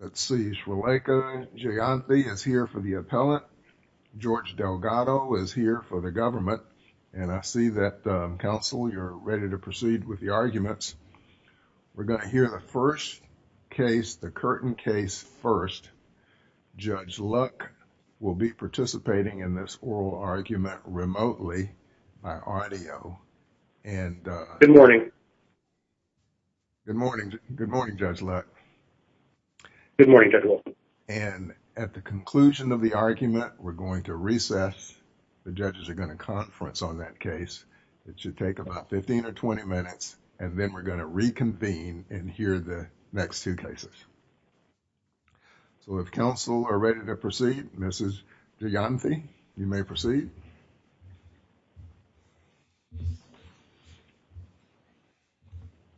Let's see, Shreleka Jayanthi is here for the appellate. George Delgado is here for the government, and I see that, counsel, you're ready to proceed with the arguments. We're going to hear the first case, the Curtin case first. Judge Luck will be participating in this oral argument remotely by audio. Judge Luck Good morning. George Delgado Good morning, Judge Luck. Judge Luck Good morning, Judge Luck. George Delgado And at the conclusion of the argument, we're going to recess. The judges are going to conference on that case. It should take about 15 or 20 minutes, and then we're going to reconvene and hear the next two cases. If counsel are ready to proceed, Mrs. Jayanthi, you may proceed. Shreleka Jayanthi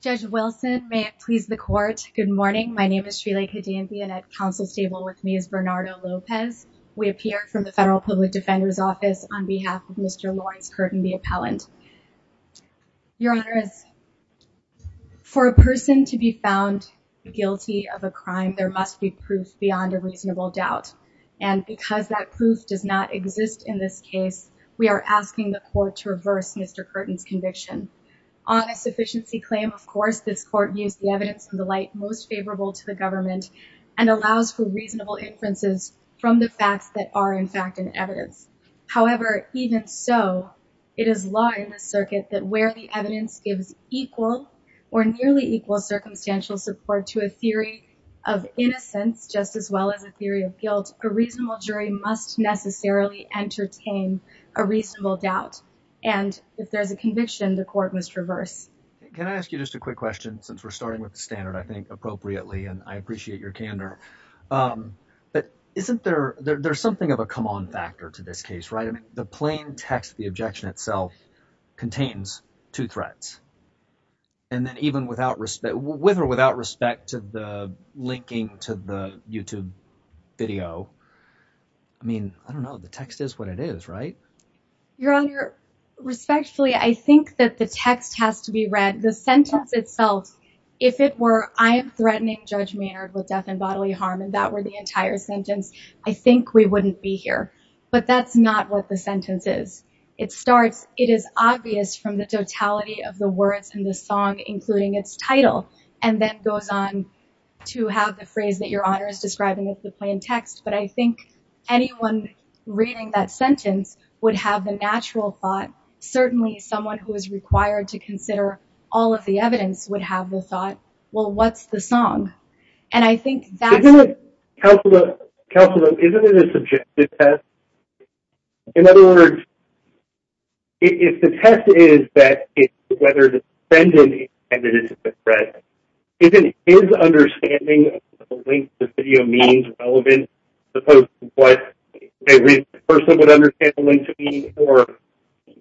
Judge Wilson, may it please the court. Good morning. My name is Shreleka Jayanthi, and at counsel's table with me is Bernardo Lopez. We appear from the Federal Public Defender's Office on behalf of Mr. Lawrence Curtin, the appellant. Your Honor, for a person to be found guilty of a crime, there must be proof beyond a reasonable doubt. And because that proof does not exist in this case, we are asking the court to reverse Mr. Curtin's conviction. On a sufficiency claim, of course, this court views the evidence in the light most favorable to the government and allows for reasonable inferences from the facts that are in fact in evidence. However, even so, it is law in the circuit that where the evidence gives equal or nearly equal circumstantial support to a theory of innocence, just as well as a theory of guilt, a reasonable jury must necessarily entertain a reasonable doubt. And if there's a conviction, the court must reverse. Can I ask you just a quick question, since we're starting with the standard, I think appropriately, and I appreciate your candor. But isn't there, there's something of a come on factor to this case, right? I mean, plain text, the objection itself contains two threats. And then even without respect, with or without respect to the linking to the YouTube video, I mean, I don't know, the text is what it is, right? Your Honor, respectfully, I think that the text has to be read. The sentence itself, if it were, I am threatening Judge Maynard with death and bodily harm, and that were the entire sentence, I think we wouldn't be here. But that's not what the sentence is. It starts, it is obvious from the totality of the words in the song, including its title, and then goes on to have the phrase that Your Honor is describing with the plain text. But I think anyone reading that sentence would have the natural thought, certainly someone who is required to consider all of the evidence would have the thought, well, what's the song? And I think that's... Counselor, isn't it a subjective test? In other words, if the test is that it's whether the defendant intended it to be a threat, isn't his understanding of the link to the video means relevant, as opposed to what a person would understand the link to be, or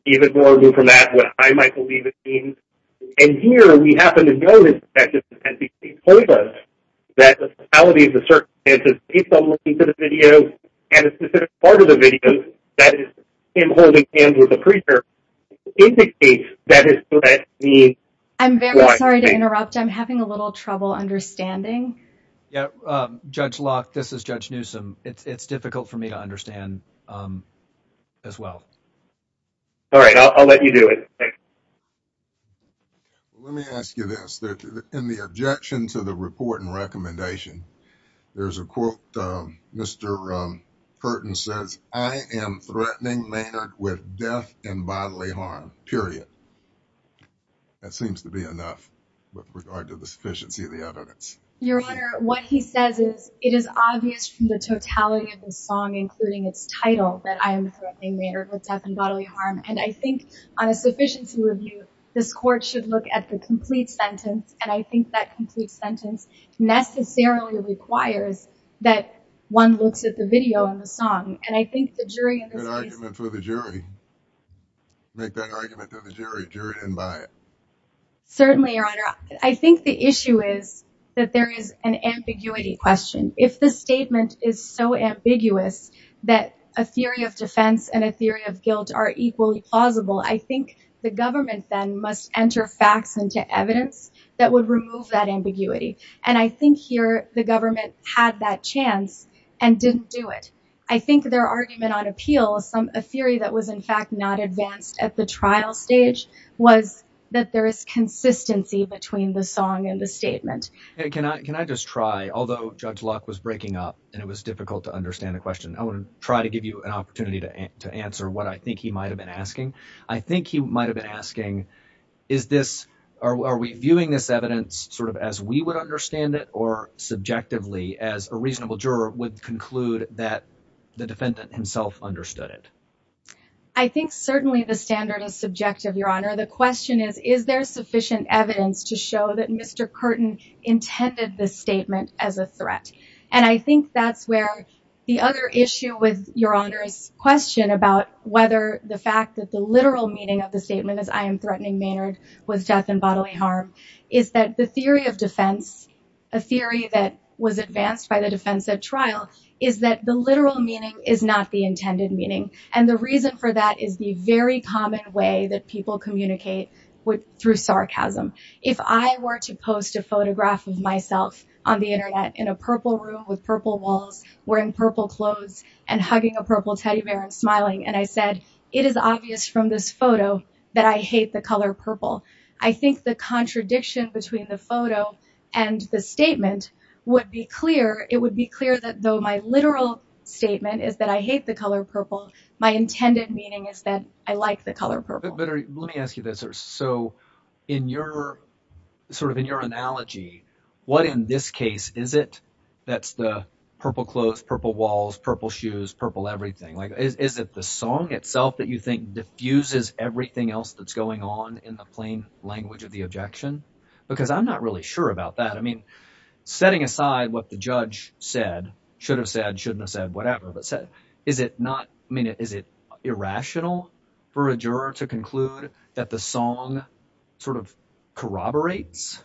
even more removed from that, what I might believe it means? And here we happen to notice that this is a tendency to exploit us, that the totality of the circumstances based on linking to the video and a specific part of the video that is in holding hands with the preacher indicates that is what that means. I'm very sorry to interrupt. I'm having a little trouble understanding. Yeah. Judge Locke, this is Judge Newsom. It's difficult for me to understand as well. All right. I'll let you do it. Let me ask you this. In the objection to the report and recommendation, there's a quote, Mr. Curtin says, I am threatening Maynard with death and bodily harm, period. That seems to be enough with regard to the sufficiency of the evidence. Your Honor, what he says is it is obvious from the totality of the song, including its title, that I am threatening Maynard with death and bodily harm. And I think on a sufficiency review, this court should look at the complete sentence. And I think that complete sentence necessarily requires that one looks at the video and the song. And I think the jury in this case— Make that argument for the jury. Make that argument to the jury. Jury didn't buy it. Certainly, Your Honor. I think the issue is that there is an ambiguity question. If the statement is so ambiguous that a theory of defense and a theory of guilt are equally plausible, I think the government then must enter facts into evidence that would remove that ambiguity. And I think here the government had that chance and didn't do it. I think their argument on appeal, some—a theory that was in fact not advanced at the trial stage, was that there is consistency between the song and the statement. Can I just try, although Judge Locke was breaking up and it was difficult to understand the question, I want to try to give you an opportunity to answer what I think he might have been asking. I think he might have been asking, is this—are we viewing this evidence sort of as we would understand it or subjectively as a reasonable juror would conclude that the defendant himself understood it? I think certainly the standard is subjective, Your Honor. The question is, is there sufficient evidence to show that Mr. Curtin intended the statement as a threat? And I think that's where the other issue with Your Honor's question about whether the fact that the literal meaning of the statement is, I am threatening Maynard with death and bodily harm, is that the theory of defense, a theory that was advanced by the defense at trial, is that the literal meaning is not the intended meaning. And the reason for that is the very common way that people communicate through sarcasm. If I were to post a photograph of myself on the internet in a purple room with purple walls, wearing purple clothes, and hugging a purple teddy bear and smiling, and I said, it is obvious from this photo that I hate the color purple, I think the contradiction between the photo and the statement would be clear. It would be clear that though my literal statement is that I hate the color purple, my intended meaning is that I like the color purple. But let me ask you this. So in your, sort of in your analogy, what in this case is it that's the purple clothes, purple walls, purple shoes, purple everything? Is it the song itself that you think diffuses everything else that's going on in the plain language of the objection? Because I'm not really sure about that. I mean, setting aside what the judge said, should have said, shouldn't have said, whatever, but said, is it not, I mean, is it irrational for a juror to conclude that the song sort of corroborates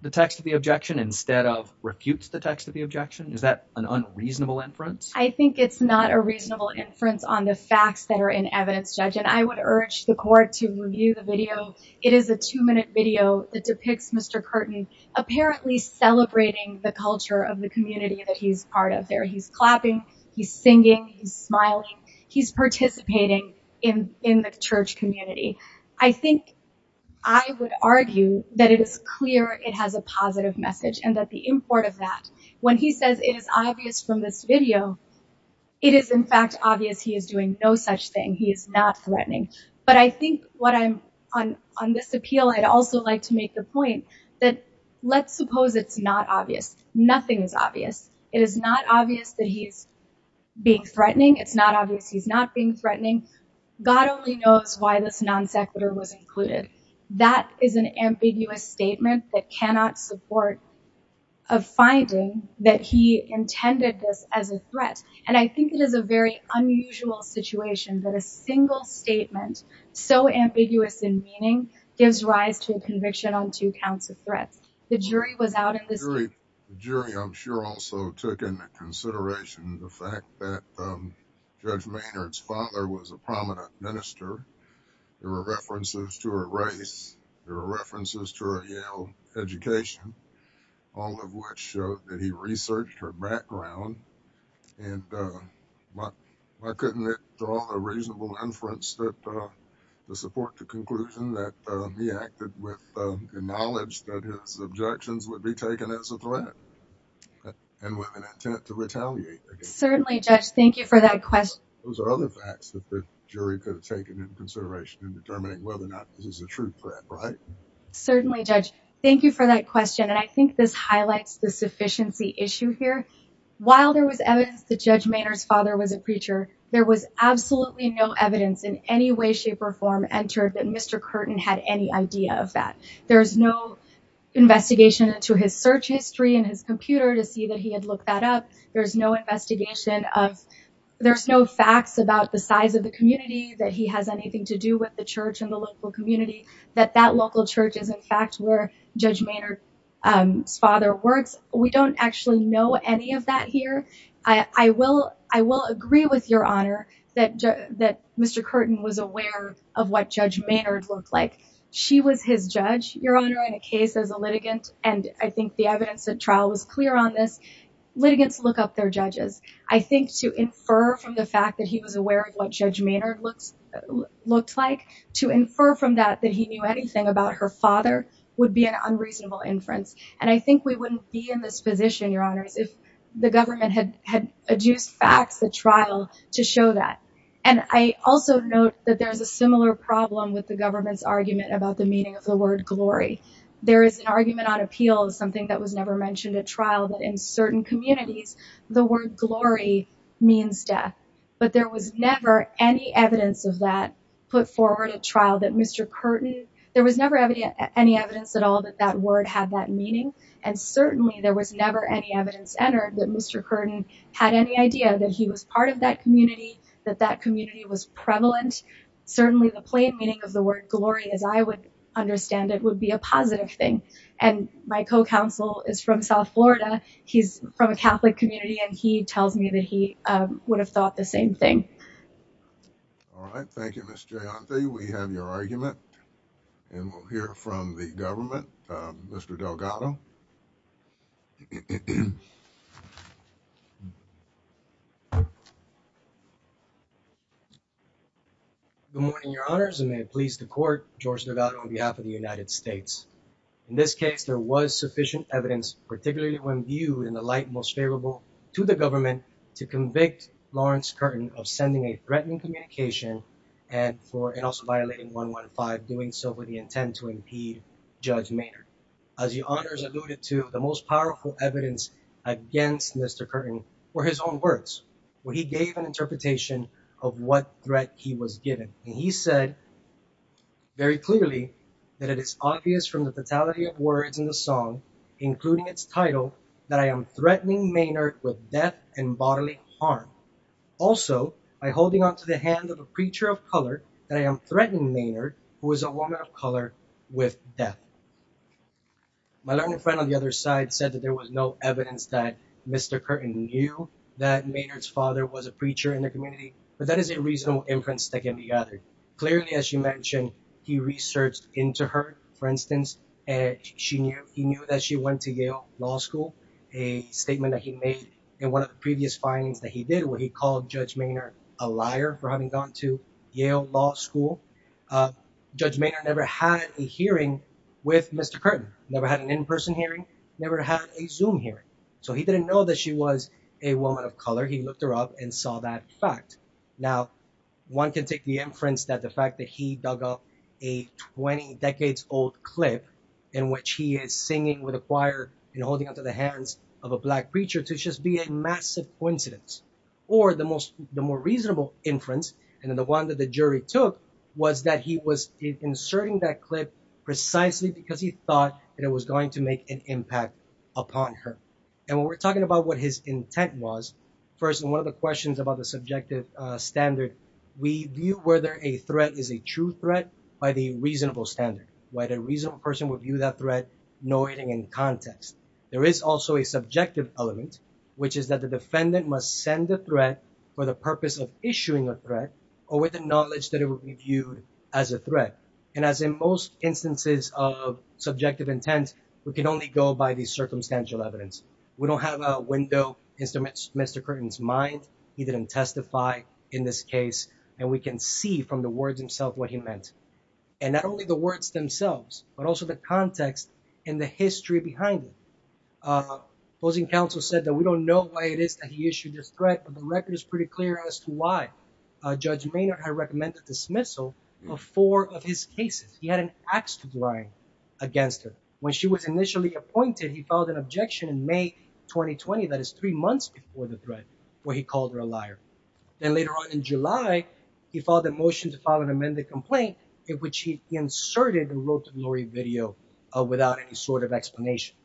the text of the objection instead of refutes the text of the objection? Is that an unreasonable inference? I think it's not a reasonable inference on the facts that are in evidence, judge. And I would urge the court to review the video. It is a two minute video that depicts Mr. Curtin apparently celebrating the culture of the community that he's part of there. He's clapping, he's singing, he's smiling, he's participating in, in the church community. I think I would argue that it is clear it has a positive message and that the import of that when he says it is obvious from this video, it is in fact obvious he is doing no such thing. He is not threatening. But I think what I'm on, on this appeal, I'd also like to make the point that let's suppose it's not obvious. Nothing is obvious. It is not obvious that he's being threatening. It's not obvious. He's not being threatening. God only knows why this non sequitur was included. That is an as a threat. And I think it is a very unusual situation that a single statement so ambiguous in meaning gives rise to a conviction on two counts of threats. The jury was out in this. The jury I'm sure also took into consideration the fact that judge Maynard's father was a prominent minister. There were references to her race. There were references to her Yale education, all of which showed that he researched her background. And why couldn't it draw a reasonable inference that the support to conclusion that he acted with the knowledge that his objections would be taken as a threat and with an intent to retaliate. Certainly judge. Thank you for that question. Those are other facts that the jury could have taken into consideration in determining whether he's a true threat. Right? Certainly judge. Thank you for that question. And I think this highlights the sufficiency issue here. While there was evidence that judge Maynard's father was a preacher, there was absolutely no evidence in any way, shape or form entered that Mr. Curtin had any idea of that. There is no investigation into his search history and his computer to see that he had looked that up. There's no investigation of, there's no facts about the size of the community that he has anything to do with the church and the local community that that local church is in fact where judge Maynard's father works. We don't actually know any of that here. I will agree with your honor that Mr. Curtin was aware of what judge Maynard looked like. She was his judge, your honor, in a case as a litigant. And I think the evidence that trial was clear on this, litigants look up their judges. I think to infer from the fact that he was aware of what judge Maynard looked like, to infer from that, that he knew anything about her father would be an unreasonable inference. And I think we wouldn't be in this position, your honors, if the government had had adduced facts, the trial to show that. And I also note that there's a similar problem with the government's argument about the meaning of the word glory. There is an argument on appeal, something that was never mentioned at trial, that in certain communities, the word glory means death. But there was never any evidence of that put forward at trial that Mr. Curtin, there was never any evidence at all that that word had that meaning. And certainly there was never any evidence entered that Mr. Curtin had any idea that he was part of that community, that that community was prevalent. Certainly the plain meaning of the word glory, as I would understand it, would be a positive thing. And my co-counsel is from South Florida. He's from a would have thought the same thing. All right. Thank you, Ms. Jayanti. We have your argument and we'll hear from the government. Mr. Delgado. Good morning, your honors, and may it please the court, George Delgado on behalf of the United States. In this case, there was sufficient evidence, particularly when viewed in the most favorable to the government to convict Lawrence Curtin of sending a threatening communication and for, and also violating 115 doing so with the intent to impede Judge Maynard. As your honors alluded to, the most powerful evidence against Mr. Curtin were his own words, where he gave an interpretation of what threat he was given. And he said very clearly that it is obvious from the totality of words in the song, including its title that I am threatening Maynard with death and bodily harm. Also by holding onto the hand of a preacher of color that I am threatening Maynard, who is a woman of color with death. My learned friend on the other side said that there was no evidence that Mr. Curtin knew that Maynard's father was a preacher in the community, but that is a reasonable inference that can be gathered. Clearly, as you mentioned, he researched into her, for instance, and she knew, he knew that she went to Yale Law School, a statement that he made in one of the previous findings that he did where he called Judge Maynard a liar for having gone to Yale Law School. Judge Maynard never had a hearing with Mr. Curtin, never had an in-person hearing, never had a Zoom hearing. So he didn't know that she was a woman of color. He looked her up and saw that fact. Now, one can take the inference that the a 20 decades old clip in which he is singing with a choir and holding onto the hands of a black preacher to just be a massive coincidence. Or the most, the more reasonable inference, and the one that the jury took was that he was inserting that clip precisely because he thought that it was going to make an impact upon her. And when we're talking about what his intent was, first, and one of the questions about the subjective standard, we view whether a threat is a true threat by the reasonable standard, whether a reasonable person would view that threat, noting in context. There is also a subjective element, which is that the defendant must send a threat for the purpose of issuing a threat or with the knowledge that it would be viewed as a threat. And as in most instances of subjective intent, we can only go by the circumstantial evidence. We don't have a window into Mr. Curtin's mind. He didn't testify in this what he meant, and not only the words themselves, but also the context and the history behind it. Closing counsel said that we don't know why it is that he issued this threat, but the record is pretty clear as to why Judge Maynard had recommended dismissal of four of his cases. He had an axe to grind against her. When she was initially appointed, he filed an objection in May 2020, that is three months before the threat, where he called her a liar. Then later on in July, he filed a motion to file an amended complaint, in which he inserted and wrote a blurry video without any sort of explanation.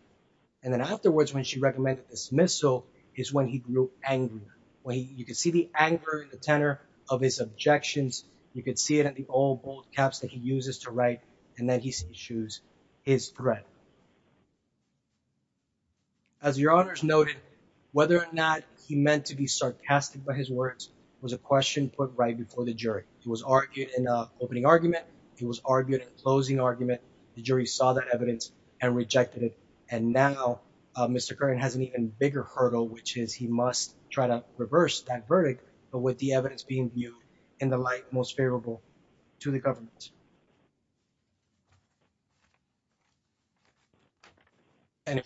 And then afterwards, when she recommended dismissal, is when he grew angrier. When you could see the anger and the tenor of his objections, you could see it at the old bold caps that he uses to write, and then he issues his threat. As your honors noted, whether or not he meant to be sarcastic by his words was a question put right before the jury. He was argued in an opening argument. He was argued in a closing argument. The jury saw that evidence and rejected it. And now Mr. Curran has an even bigger hurdle, which is he must try to reverse that verdict, but with the evidence being viewed in the light most favorable to the government. I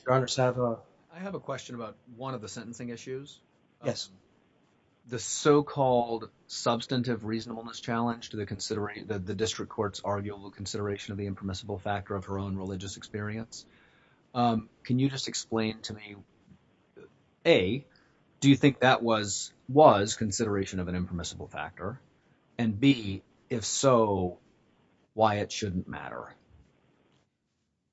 have a question about one of the sentencing issues. Yes. The so-called substantive reasonableness challenge to the district court's arguable consideration of the impermissible factor of her own religious experience. Can you just explain to me, A, do you think that was consideration of an impermissible factor, and B, if so, why it shouldn't matter?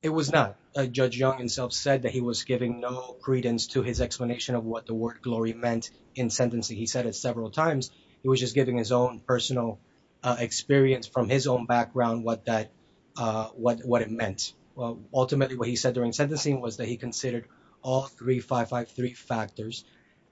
It was not. Judge Young himself said that he was giving no credence to his explanation of what the word glory meant in sentencing. He said it several times. He was just giving his own personal experience from his own background what it meant. Ultimately, what he said during sentencing was that he considered all three 553 factors,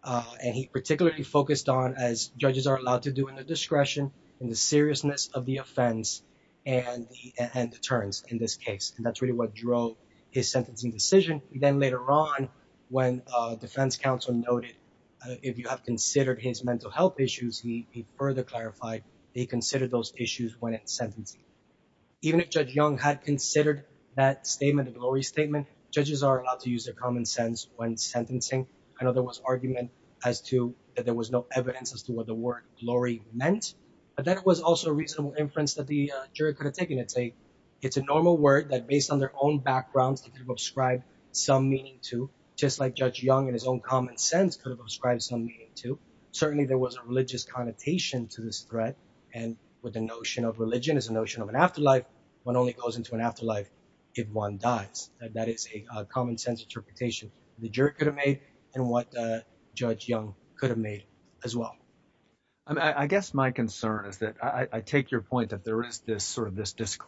and he particularly focused on, as judges are allowed to do, the discretion and the seriousness of the offense and the terms in this case. And that's really what drove his sentencing decision. Then later on, when defense counsel noted, if you have considered his mental health issues, he further clarified that he considered those issues when in sentencing. Even if Judge Young had considered that statement, the glory statement, judges are allowed to use their common sense when sentencing. I know there was argument as to that there was no evidence as to what the word glory meant, but then it was also a reasonable inference that the jury could have taken. It's a normal word that, based on their own backgrounds, they could have ascribed some meaning to, just like Judge Young in his own common sense could have ascribed some meaning to. Certainly there was a religious connotation to this threat, and with the notion of religion as a notion of an afterlife, one only goes into an afterlife if one dies. That is a common sense interpretation the jury could have made and what Judge Young could have made as well. I guess my concern is that I take your point that there is this sort of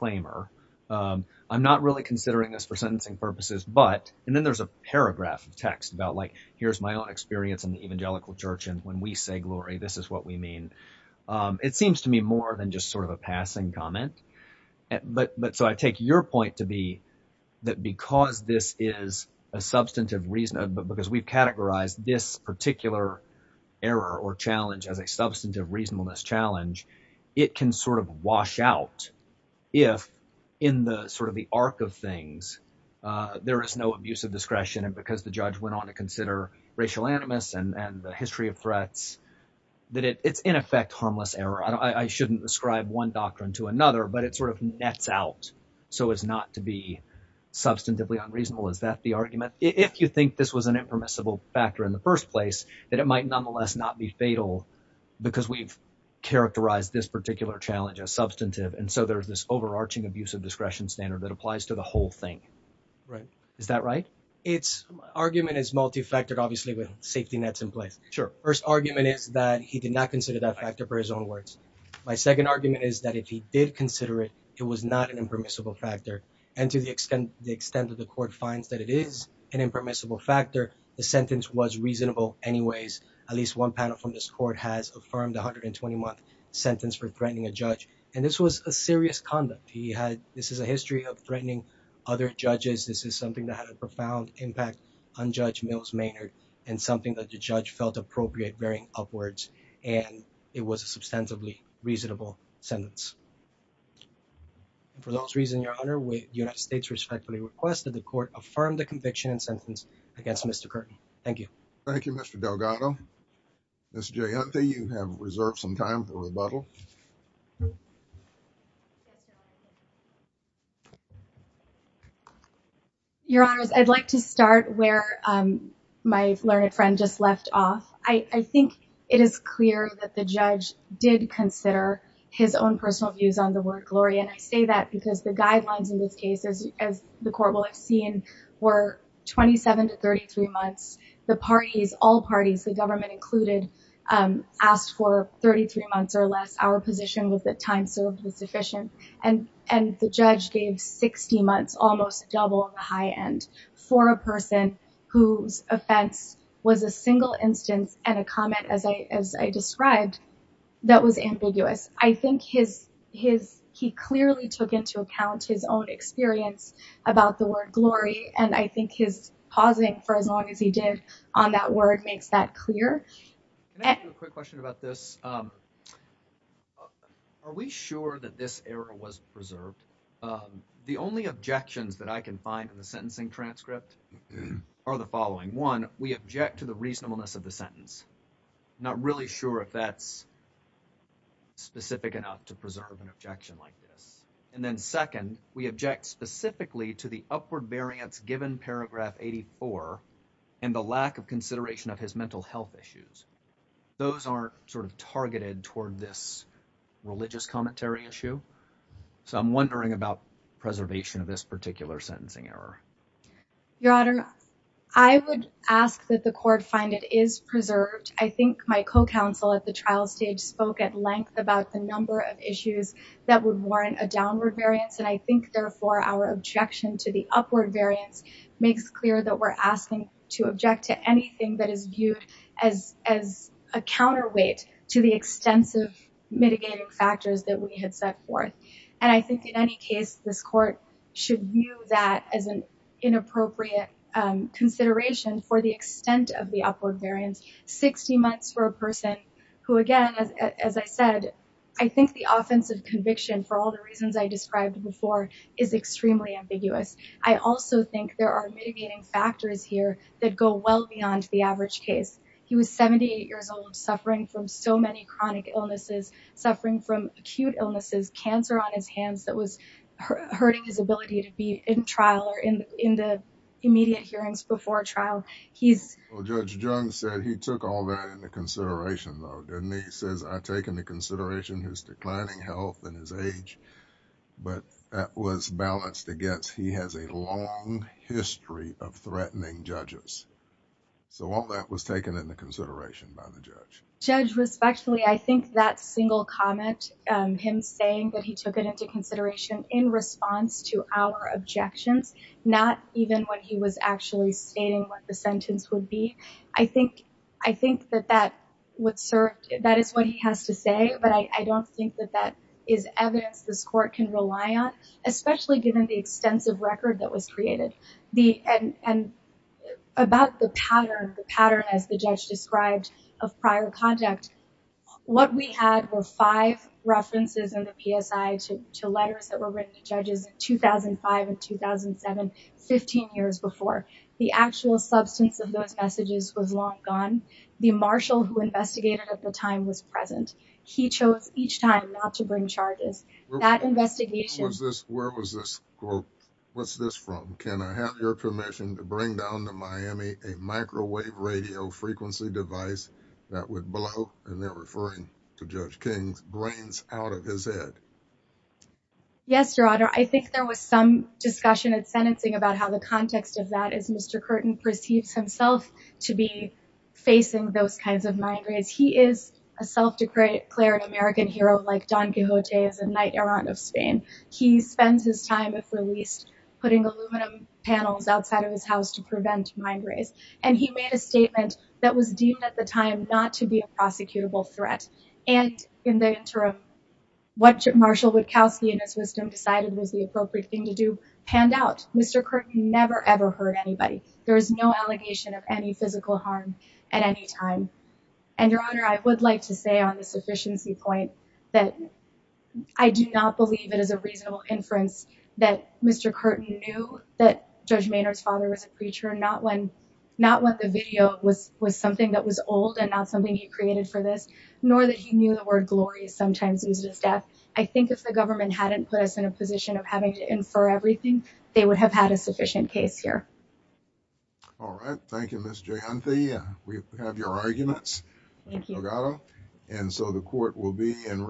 error. I'm not really considering this for sentencing purposes, but, and then there's a paragraph of text about, like, here's my own experience in the evangelical church, and when we say glory, this is what we mean. It seems to me more than just sort of a passing comment, but so I take your point to be that because this is a substantive reason, because we've categorized this particular error or challenge as a substantive reasonableness challenge, it can sort of wash out if, in the sort of the arc of things, there is no abuse of discretion, and because the judge went on to consider racial animus and the history of threats, that it's in effect harmless error. I shouldn't ascribe one doctrine to another, but it sort of nets out, so as not to be substantively unreasonable. Is that the argument? If you think this was an impermissible factor in the first place, that it might nonetheless not be fatal because we've characterized this particular challenge as substantive, and so there's this overarching abuse of discretion standard that applies to the whole thing. Right. Is that right? Its argument is multifactored, obviously, with safety nets in place. Sure. First argument is that he did not consider that factor for his own words. My second argument is that if he did consider it, it was not an impermissible factor, and to the extent the extent of the court finds that it is an impermissible factor, the sentence was reasonable anyways. At least one panel from this court has affirmed the 121th sentence for threatening a judge, and this was a serious conduct. This is a history of threatening other judges. This is something that had a profound impact on Judge Mills Maynard, and something that the judge felt appropriate bearing upwards, and it was a substantively reasonable sentence. For those reasons, your honor, the United States respectfully requests that the court affirm the conviction and sentence against Mr. Curtin. Thank you. Thank you, Mr. Delgado. Ms. Jayanti, you have reserved some time for rebuttal. Your honors, I'd like to start where my learned friend just left off. I think it is clear that the judge did consider his own personal views on the word glory, and I say that because the 33 months, the parties, all parties, the government included, asked for 33 months or less. Our position was that time served was sufficient, and the judge gave 60 months, almost double the high end for a person whose offense was a single instance and a comment, as I described, that was ambiguous. I think he clearly took into account his own experience about the word glory, and I for as long as he did on that word makes that clear. Can I ask you a quick question about this? Are we sure that this error was preserved? The only objections that I can find in the sentencing transcript are the following. One, we object to the reasonableness of the sentence. Not really sure if that's specific enough to preserve an objection like this. And then second, we object specifically to the upward variance given paragraph 84 and the lack of consideration of his mental health issues. Those aren't sort of targeted toward this religious commentary issue, so I'm wondering about preservation of this particular sentencing error. Your honor, I would ask that the court find it is preserved. I think my co-counsel at the trial spoke at length about the number of issues that would warrant a downward variance, and I think therefore our objection to the upward variance makes clear that we're asking to object to anything that is viewed as a counterweight to the extensive mitigating factors that we had set forth. And I think in any case, this court should view that as an inappropriate consideration for the as I said, I think the offensive conviction for all the reasons I described before is extremely ambiguous. I also think there are mitigating factors here that go well beyond the average case. He was 78 years old, suffering from so many chronic illnesses, suffering from acute illnesses, cancer on his hands that was hurting his ability to be in trial or in the immediate hearings before trial. Judge Jones said he took all that into consideration though, didn't he? He says I've taken into consideration his declining health and his age, but that was balanced against he has a long history of threatening judges. So all that was taken into consideration by the judge. Judge respectfully, I think that single comment, him saying that he took it into consideration in response to our objections, not even when he was actually stating what the sentence would be. I think that that would serve, that is what he has to say, but I don't think that that is evidence this court can rely on, especially given the extensive record that was created. And about the pattern, the pattern as the judge described of prior contact, what we had were five references in the PSI to letters that were written to judges in 2005 and 2007, 15 years before. The actual substance of those messages was long gone. The marshal who investigated at the time was present. He chose each time not to bring charges. That investigation- Where was this quote, what's this from? Can I have your permission to bring down to Miami a microwave radio frequency device that would blow, and they're referring to Judge King's, brains out of his head? Yes, Your Honor. I think there was some discussion at sentencing about how the context of that is Mr. Curtin perceives himself to be facing those kinds of mind raids. He is a self-declared American hero, like Don Quixote is a knight errant of Spain. He spends his time, if released, putting aluminum panels outside of his house to prevent mind raids. And he made a statement that was deemed at the time, not to be a prosecutable threat. And in the interim, what Marshal Wachowski in his wisdom decided was the appropriate thing to do, panned out. Mr. Curtin never ever hurt anybody. There was no allegation of any physical harm at any time. And Your Honor, I would like to say on the sufficiency point that I do not believe it is a reasonable inference that Mr. Curtin knew that Judge Maynard's father was a preacher, not when, not when the video was, was something that was old and not something he created for this, nor that he knew the word glory is sometimes used as death. I think if the government hadn't put us in a position of having to infer everything, they would have had a sufficient case here. All right. Thank you, Ms. Jayanti. We have your arguments. And so the court will be in